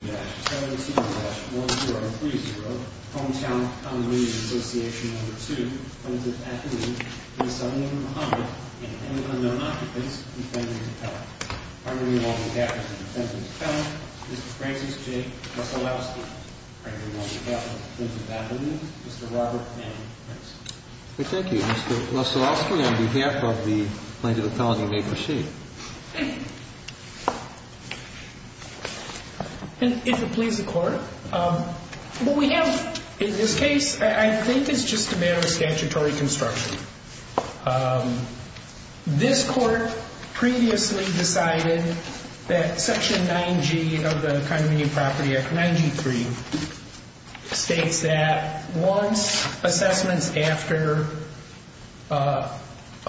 Muhammad and an unknown occupants defendant and defendant, Mr. Francis J. Lusselowski and Mr. Robert M. Henson. Thank you, Mr. Lusselowski, on behalf of the Plaintiff Authority, you may proceed. And if it pleases the Court, what we have in this case, I think it's just a matter of statutory construction. This Court previously decided that Section 9G of the Condominium Property Act, 9G.3, states that once assessments after a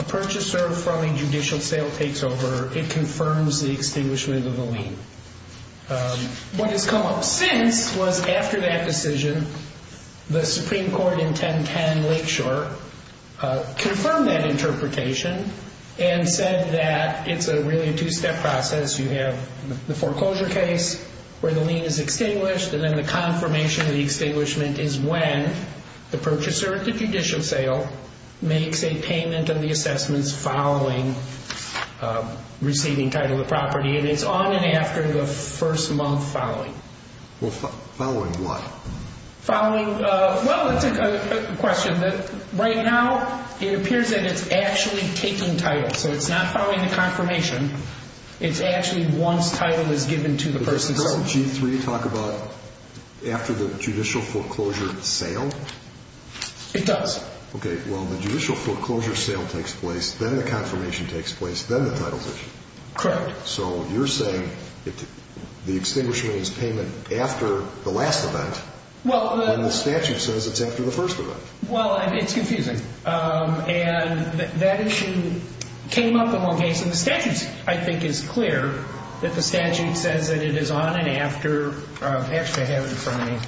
purchaser from a judicial sale takes over, it confirms the extinguishment of the lien. What has come up since was after that decision, the Supreme Court in 1010 Lakeshore confirmed that interpretation and said that it's really a two-step process. You have the foreclosure case where the lien is extinguished and then the confirmation of the extinguishment is when the purchaser at the judicial sale makes a payment of the assessments following receiving title of the property. And it's on and after the first month following. Well, following what? Following, well, it's a question that right now it appears that it's actually taking title. So it's not following the confirmation. It's actually once title is given to the person. Does 9G.3 talk about after the judicial foreclosure sale? It does. Okay. Well, the judicial foreclosure sale takes place, then the confirmation takes place, then the title is issued. Correct. So you're saying the extinguishment is payment after the last event, and the statute says it's after the first event. Well, it's confusing. And that issue came up in one case, and the statute, I think, is clear that the statute says that it is on and after, actually I have it in front of me.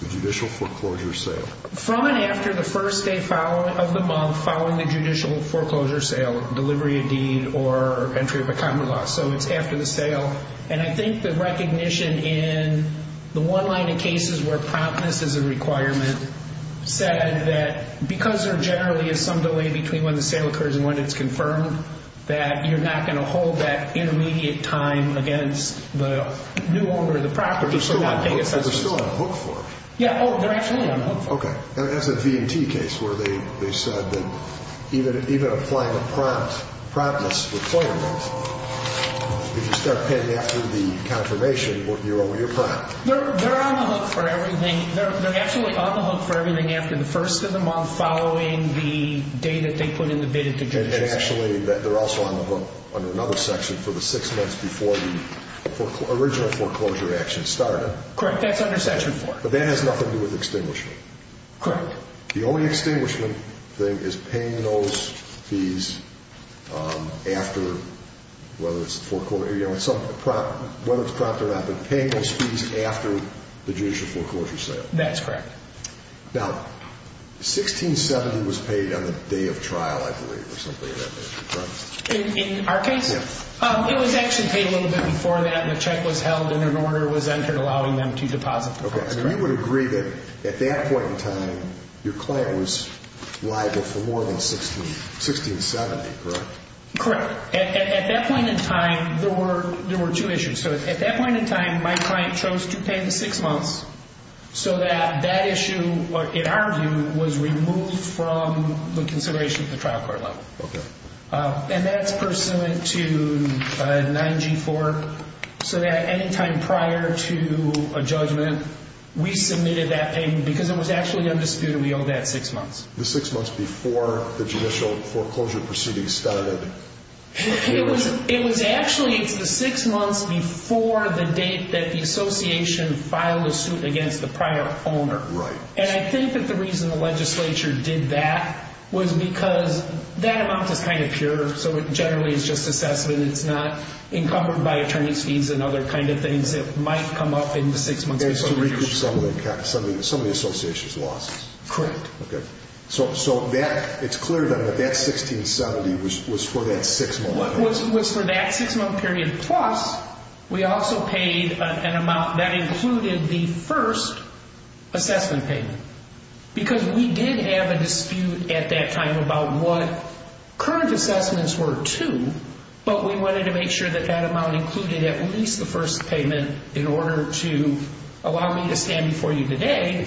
The judicial foreclosure sale. From and after the first day of the month following the judicial foreclosure sale, delivery of deed, or entry of a common law. So it's after the sale. And I think the recognition in the one line of cases where promptness is a requirement said that because there generally is some delay between when the sale occurs and when it's confirmed, that you're not going to hold that intermediate time against the new owner of the property for not paying assessments. They're still on the hook for it. Yeah. Oh, they're actually on the hook for it. Okay. Now, that's a V&T case where they said that even applying a promptness requirement, if you start paying after the confirmation, you're on your prompt. They're on the hook for everything. They're absolutely on the hook for everything after the first of the month following the date that they put in the bid at the judicial section. And actually, they're also on the hook under another section for the six months before the original foreclosure action started. Correct. That's under section four. But that has nothing to do with extinguishment. Correct. The only extinguishment thing is paying those fees after, whether it's the foreclosure, whether it's prompt or not, but paying those fees after the judicial foreclosure sale. That's correct. Now, 1670 was paid on the day of trial, I believe, or something like that. In our case? Yeah. It was actually paid a little bit before that, and the check was held, and an order was entered allowing them to deposit the funds. Okay. And you would agree that at that point in time, your client was liable for more than 1670, correct? Correct. At that point in time, there were two issues. So at that point in time, my client chose to pay the six months so that that issue, in our view, was removed from the consideration at the trial court level. Okay. And that's pursuant to 9G4, so that any time prior to a judgment, we submitted that payment, because it was actually undisputed we owed that six months. The six months before the judicial foreclosure proceedings started. It was actually the six months before the date that the association filed a suit against the prior owner. Right. And I think that the reason the legislature did that was because that amount is kind of pure, so it generally is just assessment. It's not encumbered by attorney's fees and other kind of things that might come up in the six-month period. It's to recoup some of the association's losses. Correct. Okay. So it's clear then that that 1670 was for that six-month period. We also paid an amount that included the first assessment payment, because we did have a dispute at that time about what current assessments were to, but we wanted to make sure that that amount included at least the first payment in order to allow me to stand before you today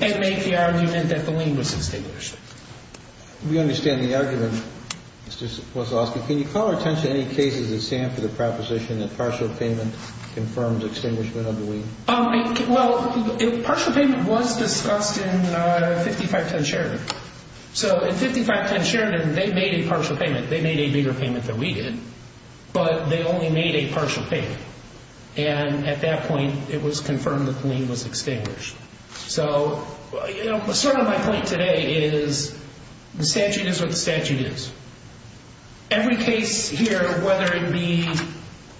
and make the argument that the lien was established. We understand the argument. Mr. Wazowski, can you call our attention to any cases that stand for the proposition that partial payment confirms extinguishment of the lien? Well, partial payment was discussed in 5510 Sheridan. So in 5510 Sheridan, they made a partial payment. They made a bigger payment than we did, but they only made a partial payment. And at that point, it was confirmed that the lien was extinguished. So sort of my point today is the statute is what the statute is. Every case here, whether it be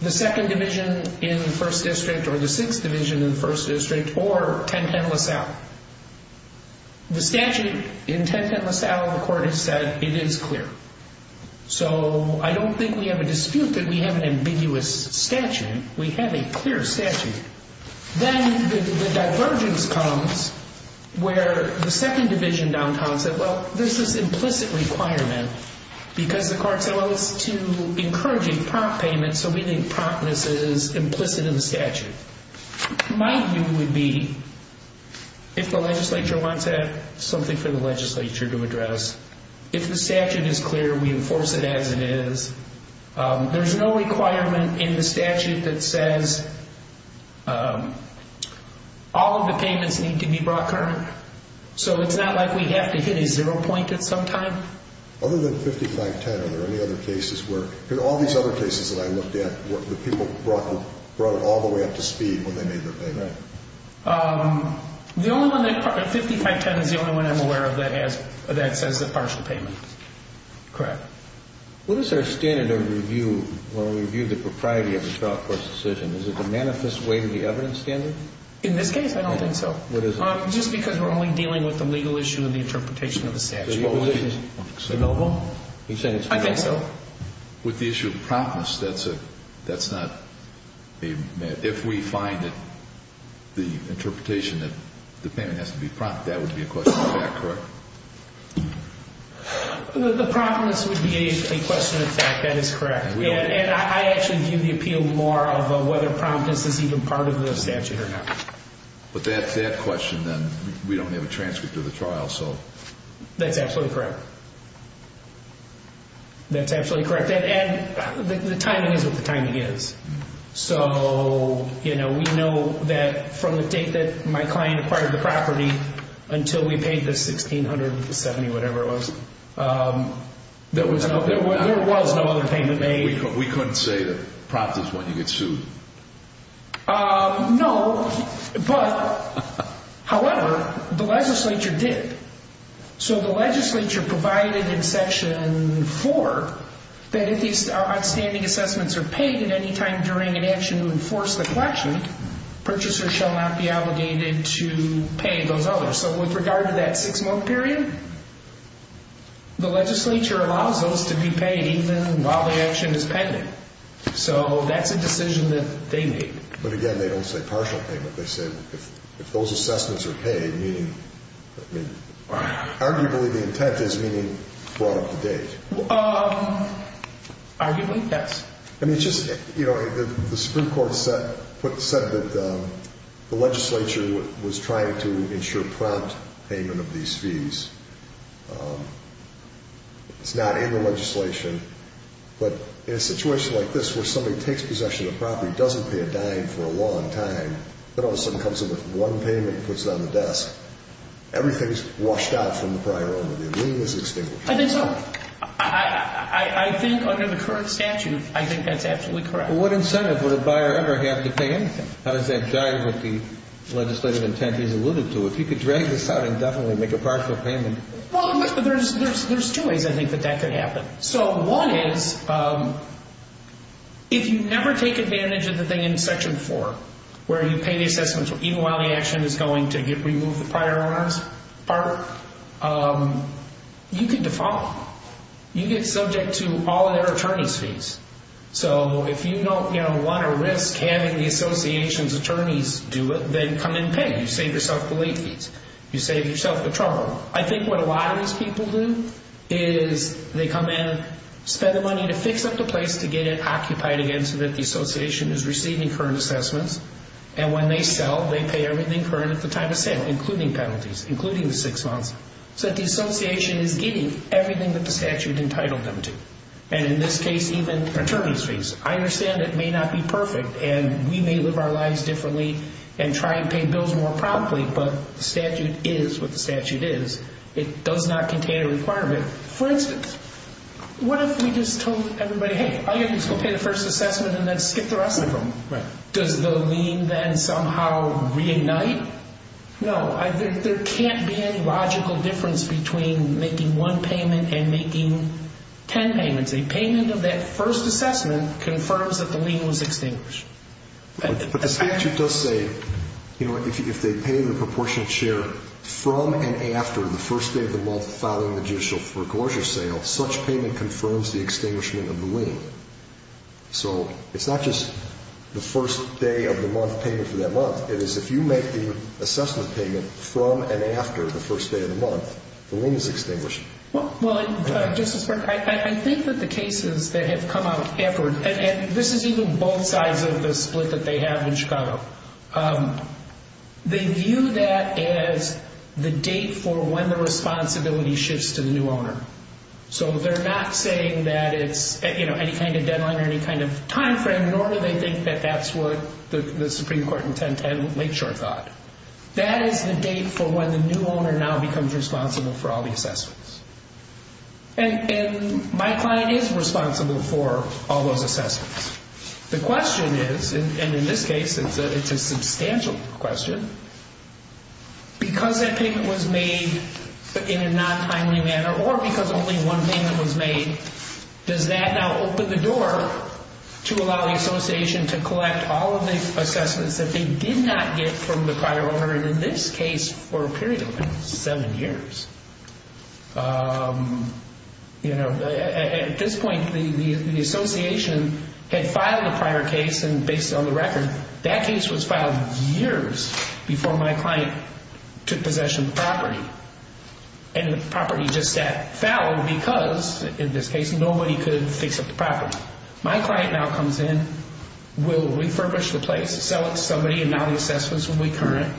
the 2nd Division in the 1st District or the 6th Division in the 1st District or 1010 LaSalle, the statute in 1010 LaSalle, the court has said it is clear. So I don't think we have a dispute that we have an ambiguous statute. We have a clear statute. Then the divergence comes where the 2nd Division downtown said, well, this is implicit requirement because the court said, well, it's to encourage a prompt payment. So we think promptness is implicit in the statute. My view would be if the legislature wants to have something for the legislature to address, if the statute is clear, we enforce it as it is. There's no requirement in the statute that says all of the payments need to be brought current. So it's not like we have to hit a zero point at some time. Other than 5510, are there any other cases where – because all these other cases that I looked at, the people brought it all the way up to speed when they made their payment. The only one that – 5510 is the only one I'm aware of that has – that says the partial payment. Correct. What is our standard of review when we review the propriety of the trial court's decision? Is it the manifest way to the evidence standard? In this case, I don't think so. What is it? Just because we're only dealing with the legal issue and the interpretation of the statute. The legal issue. Is it available? I think so. With the issue of promptness, that's a – that's not a – if we find that the interpretation that the payment has to be prompt, that would be a question of that, correct? The promptness would be a question of that. That is correct. And I actually view the appeal more of whether promptness is even part of the statute or not. But that question, then, we don't have a transcript of the trial, so – That's absolutely correct. That's absolutely correct. And the timing is what the timing is. So, you know, we know that from the date that my client acquired the property until we paid the $1,670, whatever it was, there was no other payment made. We couldn't say that prompt is when you get sued. No, but – however, the legislature did. So the legislature provided in Section 4 that if these outstanding assessments are paid at any time during an action to enforce the collection, purchasers shall not be obligated to pay those others. So with regard to that six-month period, the legislature allows those to be paid even while the action is pending. So that's a decision that they made. But again, they don't say partial payment. They said if those assessments are paid, meaning – I mean, arguably the intent is meaning brought up to date. Arguably, yes. I mean, it's just – you know, the Supreme Court said that the legislature was trying to ensure prompt payment of these fees. It's not in the legislation. But in a situation like this where somebody takes possession of a property, doesn't pay a dime for a long time, then all of a sudden comes in with one payment and puts it on the desk, everything is washed out from the prior owner. The agreement is extinguished. I think so. I think under the current statute, I think that's absolutely correct. What incentive would a buyer ever have to pay anything? How does that jive with the legislative intent as alluded to? If you could drag this out and definitely make a partial payment. Well, there's two ways I think that that could happen. So one is if you never take advantage of the thing in Section 4 where you pay the assessments even while the action is going to remove the prior owner's part, you could default. You get subject to all of their attorney's fees. So if you don't want to risk having the association's attorneys do it, then come and pay. You save yourself the late fees. You save yourself the trouble. I think what a lot of these people do is they come in, spend the money to fix up the place to get it occupied again so that the association is receiving current assessments. And when they sell, they pay everything current at the time of sale, including penalties, including the six months, so that the association is getting everything that the statute entitled them to. And in this case, even attorney's fees. I understand it may not be perfect, and we may live our lives differently and try and pay bills more promptly, but the statute is what the statute is. It does not contain a requirement. For instance, what if we just told everybody, hey, all you have to do is go pay the first assessment and then skip the rest of them? Does the lien then somehow reignite? No. There can't be any logical difference between making one payment and making ten payments. A payment of that first assessment confirms that the lien was extinguished. But the statute does say, you know, if they pay the proportional share from and after the first day of the month of filing the judicial foreclosure sale, such payment confirms the extinguishment of the lien. So it's not just the first day of the month payment for that month. It is if you make the assessment payment from and after the first day of the month, the lien is extinguished. Well, Justice Burke, I think that the cases that have come out afterwards, and this is even both sides of the split that they have in Chicago, they view that as the date for when the responsibility shifts to the new owner. So they're not saying that it's, you know, any kind of deadline or any kind of time frame, nor do they think that that's what the Supreme Court in 1010 Lakeshore thought. That is the date for when the new owner now becomes responsible for all the assessments. And my client is responsible for all those assessments. The question is, and in this case, it's a substantial question. Because that payment was made in a non-timely manner or because only one payment was made, does that now open the door to allow the association to collect all of the assessments that they did not get from the prior owner, and in this case, for a period of seven years? You know, at this point, the association had filed a prior case, and based on the record, that case was filed years before my client took possession of the property. And the property just sat foul because, in this case, nobody could fix up the property. My client now comes in, will refurbish the place, sell it to somebody, and now the assessments will be current.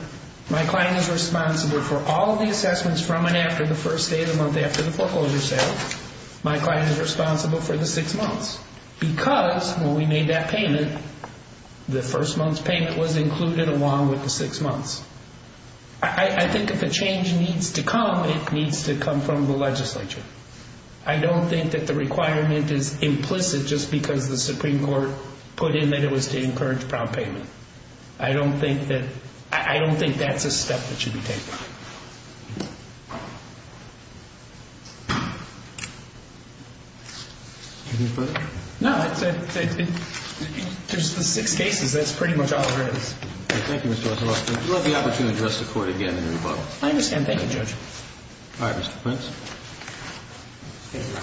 My client is responsible for all the assessments from and after the first day of the month after the foreclosure sale. My client is responsible for the six months because when we made that payment, the first month's payment was included along with the six months. I think if a change needs to come, it needs to come from the legislature. I don't think that the requirement is implicit just because the Supreme Court put in that it was to encourage prompt payment. I don't think that's a step that should be taken. No, there's the six cases. That's pretty much all there is. Thank you, Mr. Wetzel. I'd love the opportunity to address the Court again in rebuttal. I understand. Thank you, Judge. All right, Mr. Prince. Thank you, Your Honor.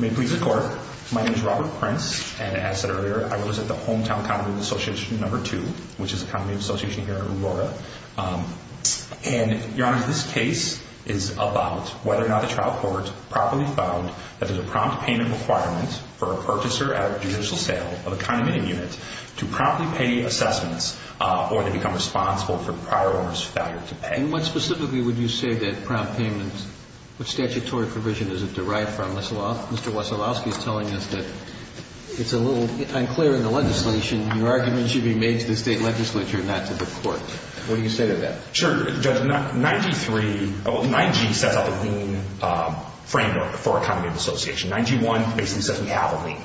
May it please the Court, my name is Robert Prince, and as said earlier, I was at the Hometown County Association No. 2, which is a county association here in Aurora. And, Your Honor, this case is about whether or not the trial court properly found that there's a prompt payment requirement for a purchaser at a judicial sale of a condominium unit to promptly pay assessments or to become responsible for prior owner's failure to pay. And what specifically would you say that prompt payment, what statutory provision is it derived from? Mr. Wetzelowski is telling us that it's a little unclear in the legislation. Your argument should be made to the state legislature, not to the Court. What do you say to that? Sure, Judge. 9G sets up a lean framework for a condominium association. 9G-1 basically says we have a lean.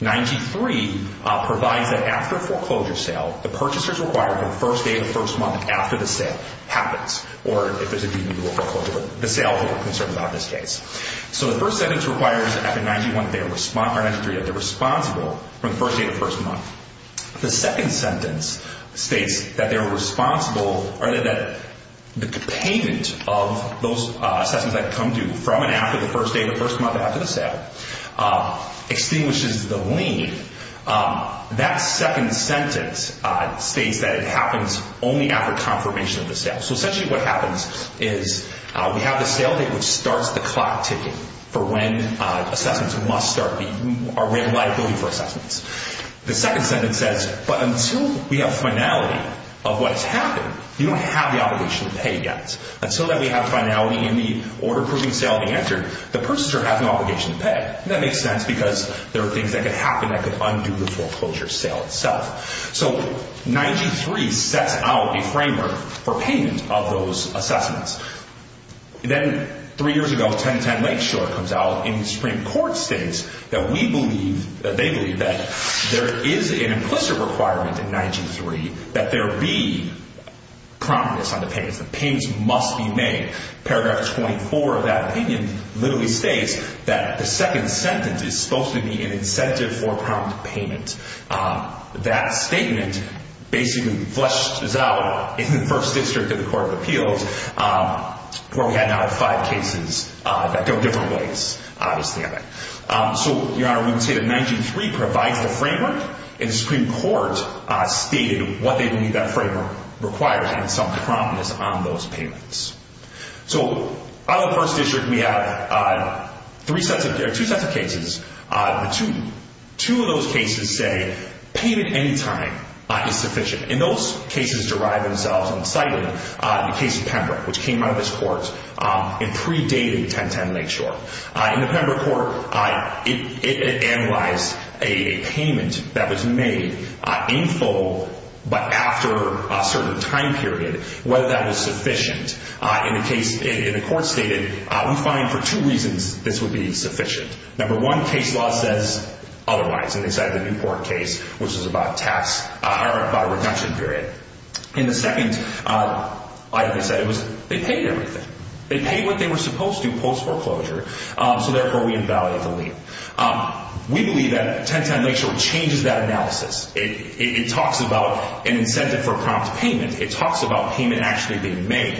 9G-3 provides that after a foreclosure sale, the purchasers require that the first day of the first month after the sale happens, or if there's a due to foreclosure. The sale people are concerned about in this case. So the first sentence requires that after 9G-1, or 9G-3, that they're responsible from the first day of the first month. The second sentence states that they're responsible, or that the payment of those assessments that come due from and after the first day of the first month after the sale extinguishes the lean. That second sentence states that it happens only after confirmation of the sale. So essentially what happens is we have the sale date which starts the clock ticking for when assessments must start, our reliability for assessments. The second sentence says, but until we have finality of what has happened, you don't have the obligation to pay yet. Until we have finality in the order proving sale being entered, the purchasers are having the obligation to pay. That makes sense because there are things that could happen that could undo the foreclosure sale itself. So 9G-3 sets out a framework for payment of those assessments. Then three years ago, 1010 Lakeshore comes out in the Supreme Court states that we believe, that they believe that there is an implicit requirement in 9G-3 that there be prominence on the payments. The payments must be made. Paragraph 24 of that opinion literally states that the second sentence is supposed to be an incentive for prompt payment. That statement basically flushes out in the first district of the Court of Appeals where we have now five cases that go different ways. So, Your Honor, we can say that 9G-3 provides the framework and the Supreme Court stated what they believe that framework requires and some prominence on those payments. So out of the first district, we have two sets of cases. Two of those cases say payment any time is sufficient. In those cases derive themselves on the site of the case of Pembroke which came out of this court in pre-dating 1010 Lakeshore. In the Pembroke court, it analyzed a payment that was made in full but after a certain time period, whether that was sufficient. In the case, the court stated, we find for two reasons this would be sufficient. Number one, case law says otherwise and they cited the Newport case which was about tax or about a reduction period. In the second, as I said, they paid everything. They paid what they were supposed to post foreclosure. So therefore, we invalidate the lien. We believe that 1010 Lakeshore changes that analysis. It talks about an incentive for prompt payment. It talks about payment actually being made.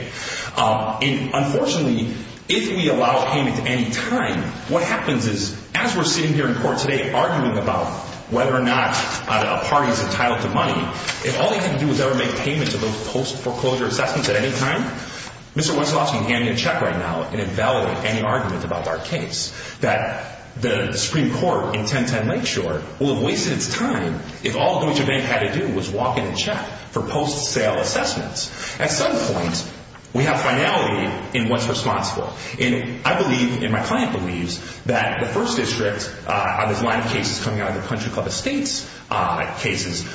And unfortunately, if we allow payment any time, what happens is as we're sitting here in court today arguing about whether or not a party is entitled to money, if all they had to do was ever make payment to those post foreclosure assessments at any time, Mr. Wetzelowski can hand me a check right now and invalidate any argument about our case. That the Supreme Court in 1010 Lakeshore will have wasted its time if all Deutsche Bank had to do was walk in and check for post-sale assessments. At some point, we have finality in what's responsible. And I believe and my client believes that the First District on this line of cases coming out of the Country Club Estates cases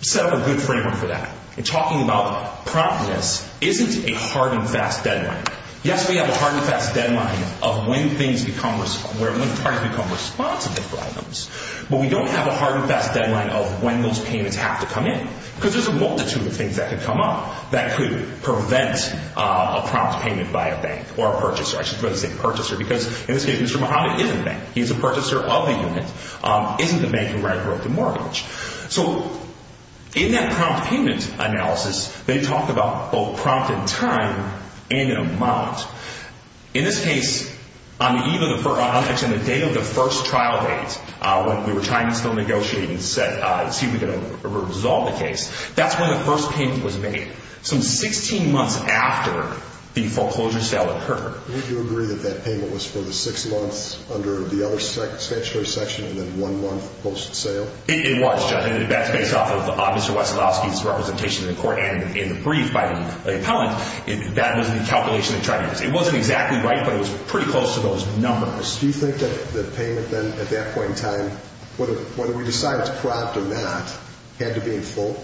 set up a good framework for that. And talking about promptness isn't a hard and fast deadline. Yes, we have a hard and fast deadline of when things become responsible, when parties become responsible for items. But we don't have a hard and fast deadline of when those payments have to come in. Because there's a multitude of things that could come up that could prevent a prompt payment by a bank or a purchaser. I should rather say purchaser because in this case, Mr. Mojave is a bank. He's a purchaser of the unit, isn't a bank who ran a broken mortgage. So in that prompt payment analysis, they talked about both prompt in time and in amount. In this case, on the day of the first trial date, when we were trying to still negotiate and see if we could resolve the case, that's when the first payment was made. Some 16 months after the foreclosure sale occurred. Would you agree that that payment was for the six months under the other statutory section and then one month post-sale? It was, Judge. That's based off of Mr. Wesolowski's representation in the court and in the brief by the appellant. That was the calculation they tried to use. It wasn't exactly right, but it was pretty close to those numbers. Do you think that the payment then at that point in time, whether we decide it's prompt or not, had to be in full?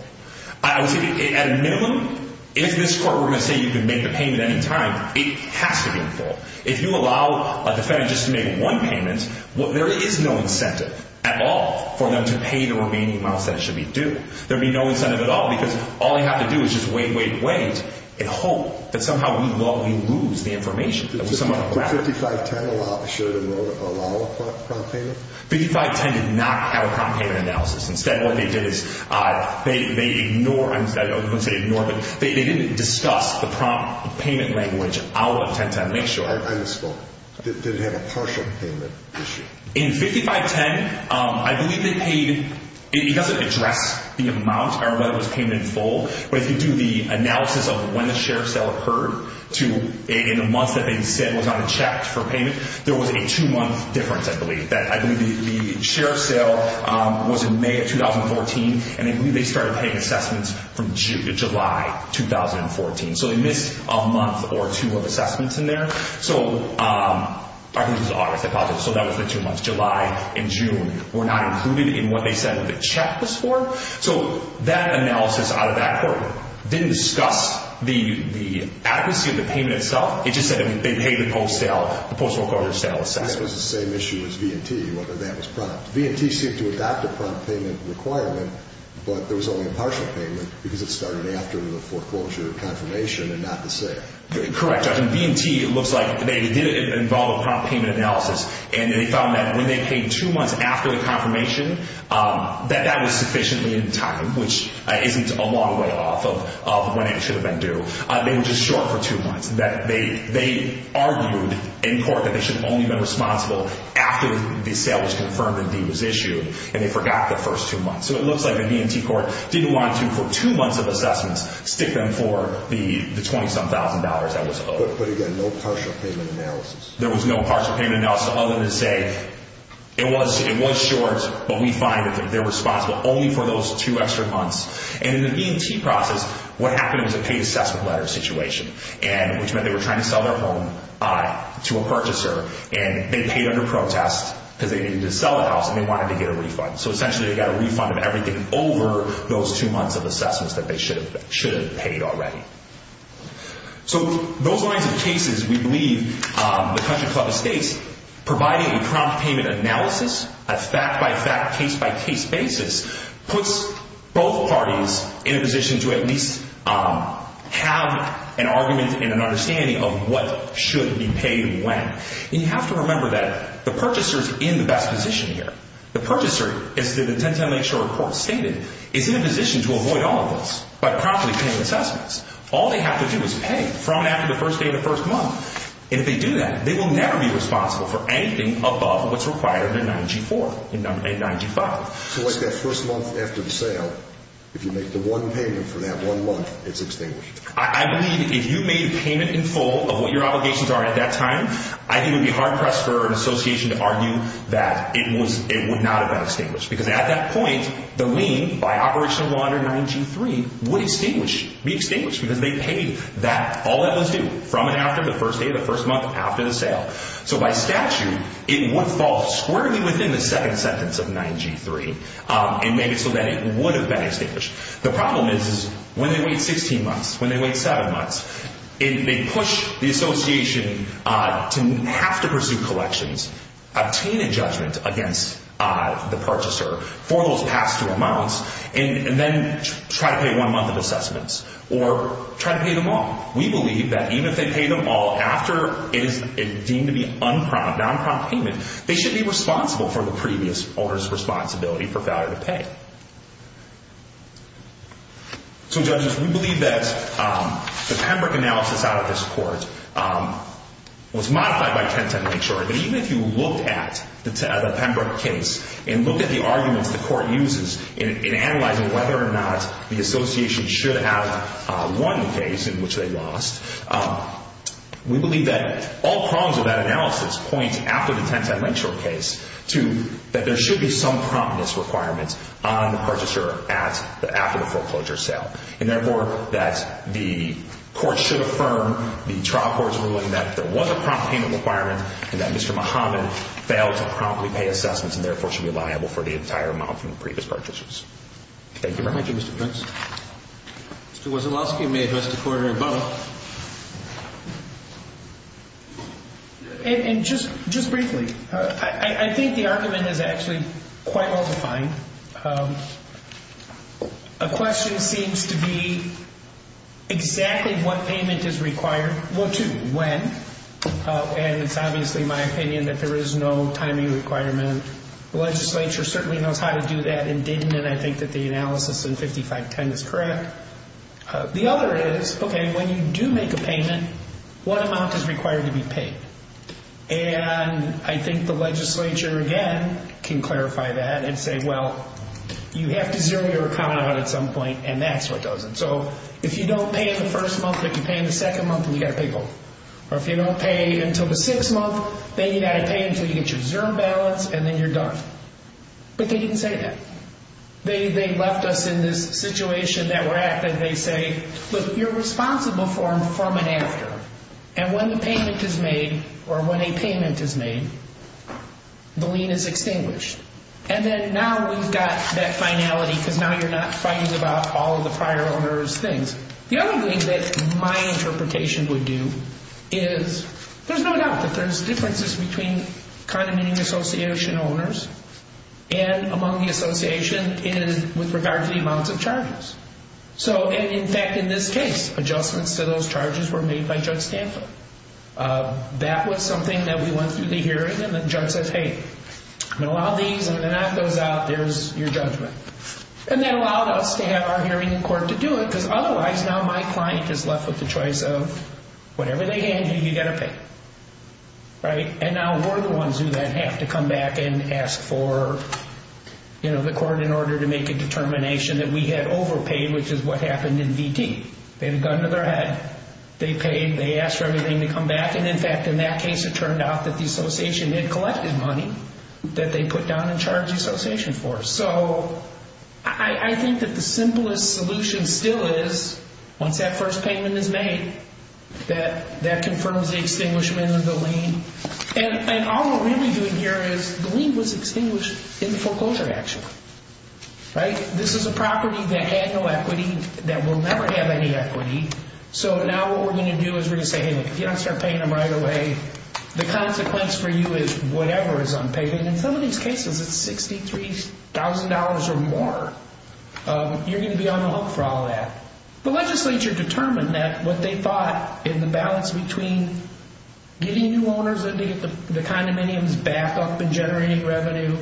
I would say at a minimum, if this court were going to say you can make the payment at any time, it has to be in full. If you allow a defendant just to make one payment, there is no incentive at all for them to pay the remaining amounts that should be due. There would be no incentive at all because all they have to do is just wait, wait, wait in hope that somehow we lose the information. 5510 should allow a prompt payment? 5510 did not have a prompt payment analysis. Instead, what they did is they ignore, I wouldn't say ignore, but they didn't discuss the prompt payment language. I'll attempt to make sure. I understand. Did it have a partial payment issue? In 5510, I believe they paid, it doesn't address the amount or whether it was paid in full, but if you do the analysis of when the share sale occurred to in the months that they said was not checked for payment, there was a two-month difference, I believe. I believe the share sale was in May of 2014, and I believe they started paying assessments from July 2014. So they missed a month or two of assessments in there. I think it was August, I apologize. So that was the two months, July and June, were not included in what they said the check was for. So that analysis out of that court didn't discuss the adequacy of the payment itself. It just said that they paid the post-recorder sale assessment. That was the same issue as V&T, whether that was prompt. V&T seemed to adopt a prompt payment requirement, but there was only a partial payment because it started after the foreclosure confirmation and not the sale. Correct, Judge. In V&T, it looks like they did involve a prompt payment analysis, and they found that when they paid two months after the confirmation, that that was sufficiently in time, which isn't a long way off of when it should have been due. They were just short for two months. They argued in court that they should have only been responsible after the sale was confirmed and the deed was issued, and they forgot the first two months. So it looks like the V&T court didn't want to, for two months of assessments, stick them for the $27,000 that was owed. But again, no partial payment analysis. There was no partial payment analysis, other than to say it was short, but we find that they're responsible only for those two extra months. And in the V&T process, what happened was a paid assessment letter situation, which meant they were trying to sell their home to a purchaser, and they paid under protest because they needed to sell the house, and they wanted to get a refund. So essentially, they got a refund of everything over those two months of assessments that they should have paid already. So those lines of cases, we believe the Country Club Estates, providing a prompt payment analysis, a fact-by-fact, case-by-case basis, puts both parties in a position to at least have an argument and an understanding of what should be paid when. And you have to remember that the purchaser is in the best position here. The purchaser, as the 1010 Lakeshore report stated, is in a position to avoid all of this by promptly paying assessments. All they have to do is pay from after the first day of the first month. And if they do that, they will never be responsible for anything above what's required in 9G4 and 9G5. So like that first month after the sale, if you make the one payment for that one month, it's extinguished. I believe if you made payment in full of what your obligations are at that time, I think it would be hard-pressed for an association to argue that it would not have been extinguished because at that point, the lien by Operational Law under 9G3 would be extinguished because they paid all that was due from and after the first day of the first month after the sale. So by statute, it would fall squarely within the second sentence of 9G3 and make it so that it would have been extinguished. The problem is when they wait 16 months, when they wait 7 months, they push the association to have to pursue collections, obtain a judgment against the purchaser for those past two months, and then try to pay one month of assessments or try to pay them all. We believe that even if they pay them all after it is deemed to be unprompt, non-prompt payment, they should be responsible for the previous owner's responsibility for failure to pay. So, judges, we believe that the Pembroke analysis out of this court was modified by 1010 to make sure that even if you looked at the Pembroke case and looked at the arguments the court uses in analyzing whether or not the association should have one case in which they lost, we believe that all prongs of that analysis point after the 1010 Linkshore case to that there should be some promptness requirements on the purchaser after the foreclosure sale. And therefore, that the court should affirm the trial court's ruling that there was a prompt payment requirement and that Mr. Muhammad failed to promptly pay assessments and therefore should be liable for the entire amount from the previous purchasers. Thank you very much. Thank you, Mr. Prince. Mr. Wasilowski, you may address the court in a moment. And just briefly, I think the argument is actually quite well defined. A question seems to be exactly what payment is required, well, to when, and it's obviously my opinion that there is no timing requirement. The legislature certainly knows how to do that and didn't, and I think that the analysis in 5510 is correct. The other is, okay, when you do make a payment, what amount is required to be paid? And I think the legislature, again, can clarify that and say, well, you have to zero your account out at some point, and that's what does it. So if you don't pay in the first month, if you pay in the second month, then you've got to pay both. Or if you don't pay until the sixth month, then you've got to pay until you get your zero balance, and then you're done. But they didn't say that. They left us in this situation that we're at that they say, look, you're responsible for them from and after, and when the payment is made or when a payment is made, the lien is extinguished. And then now we've got that finality because now you're not fighting about all of the prior owner's things. The other thing that my interpretation would do is there's no doubt that there's differences between condemning association owners and among the association with regard to the amounts of charges. And, in fact, in this case, adjustments to those charges were made by Judge Stanford. That was something that we went through the hearing, and the judge said, hey, I'm going to allow these, and when the knot goes out, there's your judgment. And that allowed us to have our hearing in court to do it because otherwise, now my client is left with the choice of whatever they hand you, you've got to pay. And now we're the ones who then have to come back and ask for the court in order to make a determination that we had overpaid, which is what happened in VT. They had a gun to their head. They paid. They asked for everything to come back, and, in fact, in that case, it turned out that the association had collected money that they put down and charged the association for. So I think that the simplest solution still is once that first payment is made, that that confirms the extinguishment of the lien. And all we're really doing here is the lien was extinguished in the foreclosure action. This is a property that had no equity, that will never have any equity. So now what we're going to do is we're going to say, hey, look, if you don't start paying them right away, the consequence for you is whatever is unpaid. And in some of these cases, it's $63,000 or more. You're going to be on the hook for all that. The legislature determined that what they thought in the balance between getting new owners in to get the condominiums backed up and generating revenue,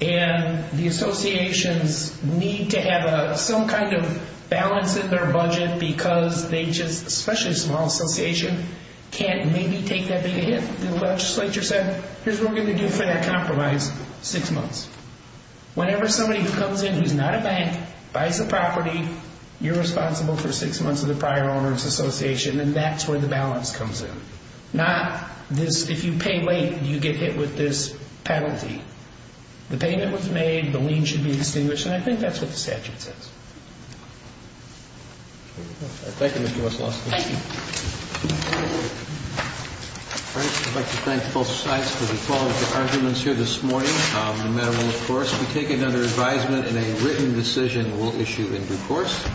and the associations need to have some kind of balance in their budget because they just, especially a small association, can't maybe take that big a hit. The legislature said, here's what we're going to do for that compromise, six months. Whenever somebody comes in who's not a bank, buys a property, you're responsible for six months of the prior owner's association, and that's where the balance comes in. Not this, if you pay late, you get hit with this penalty. The payment was made, the lien should be extinguished, and I think that's what the statute says. Thank you, Mr. Wesselowski. Thank you. All right. I'd like to thank both sides for the follow-up arguments here this morning. The matter will, of course, be taken under advisement, and a written decision will issue in due course.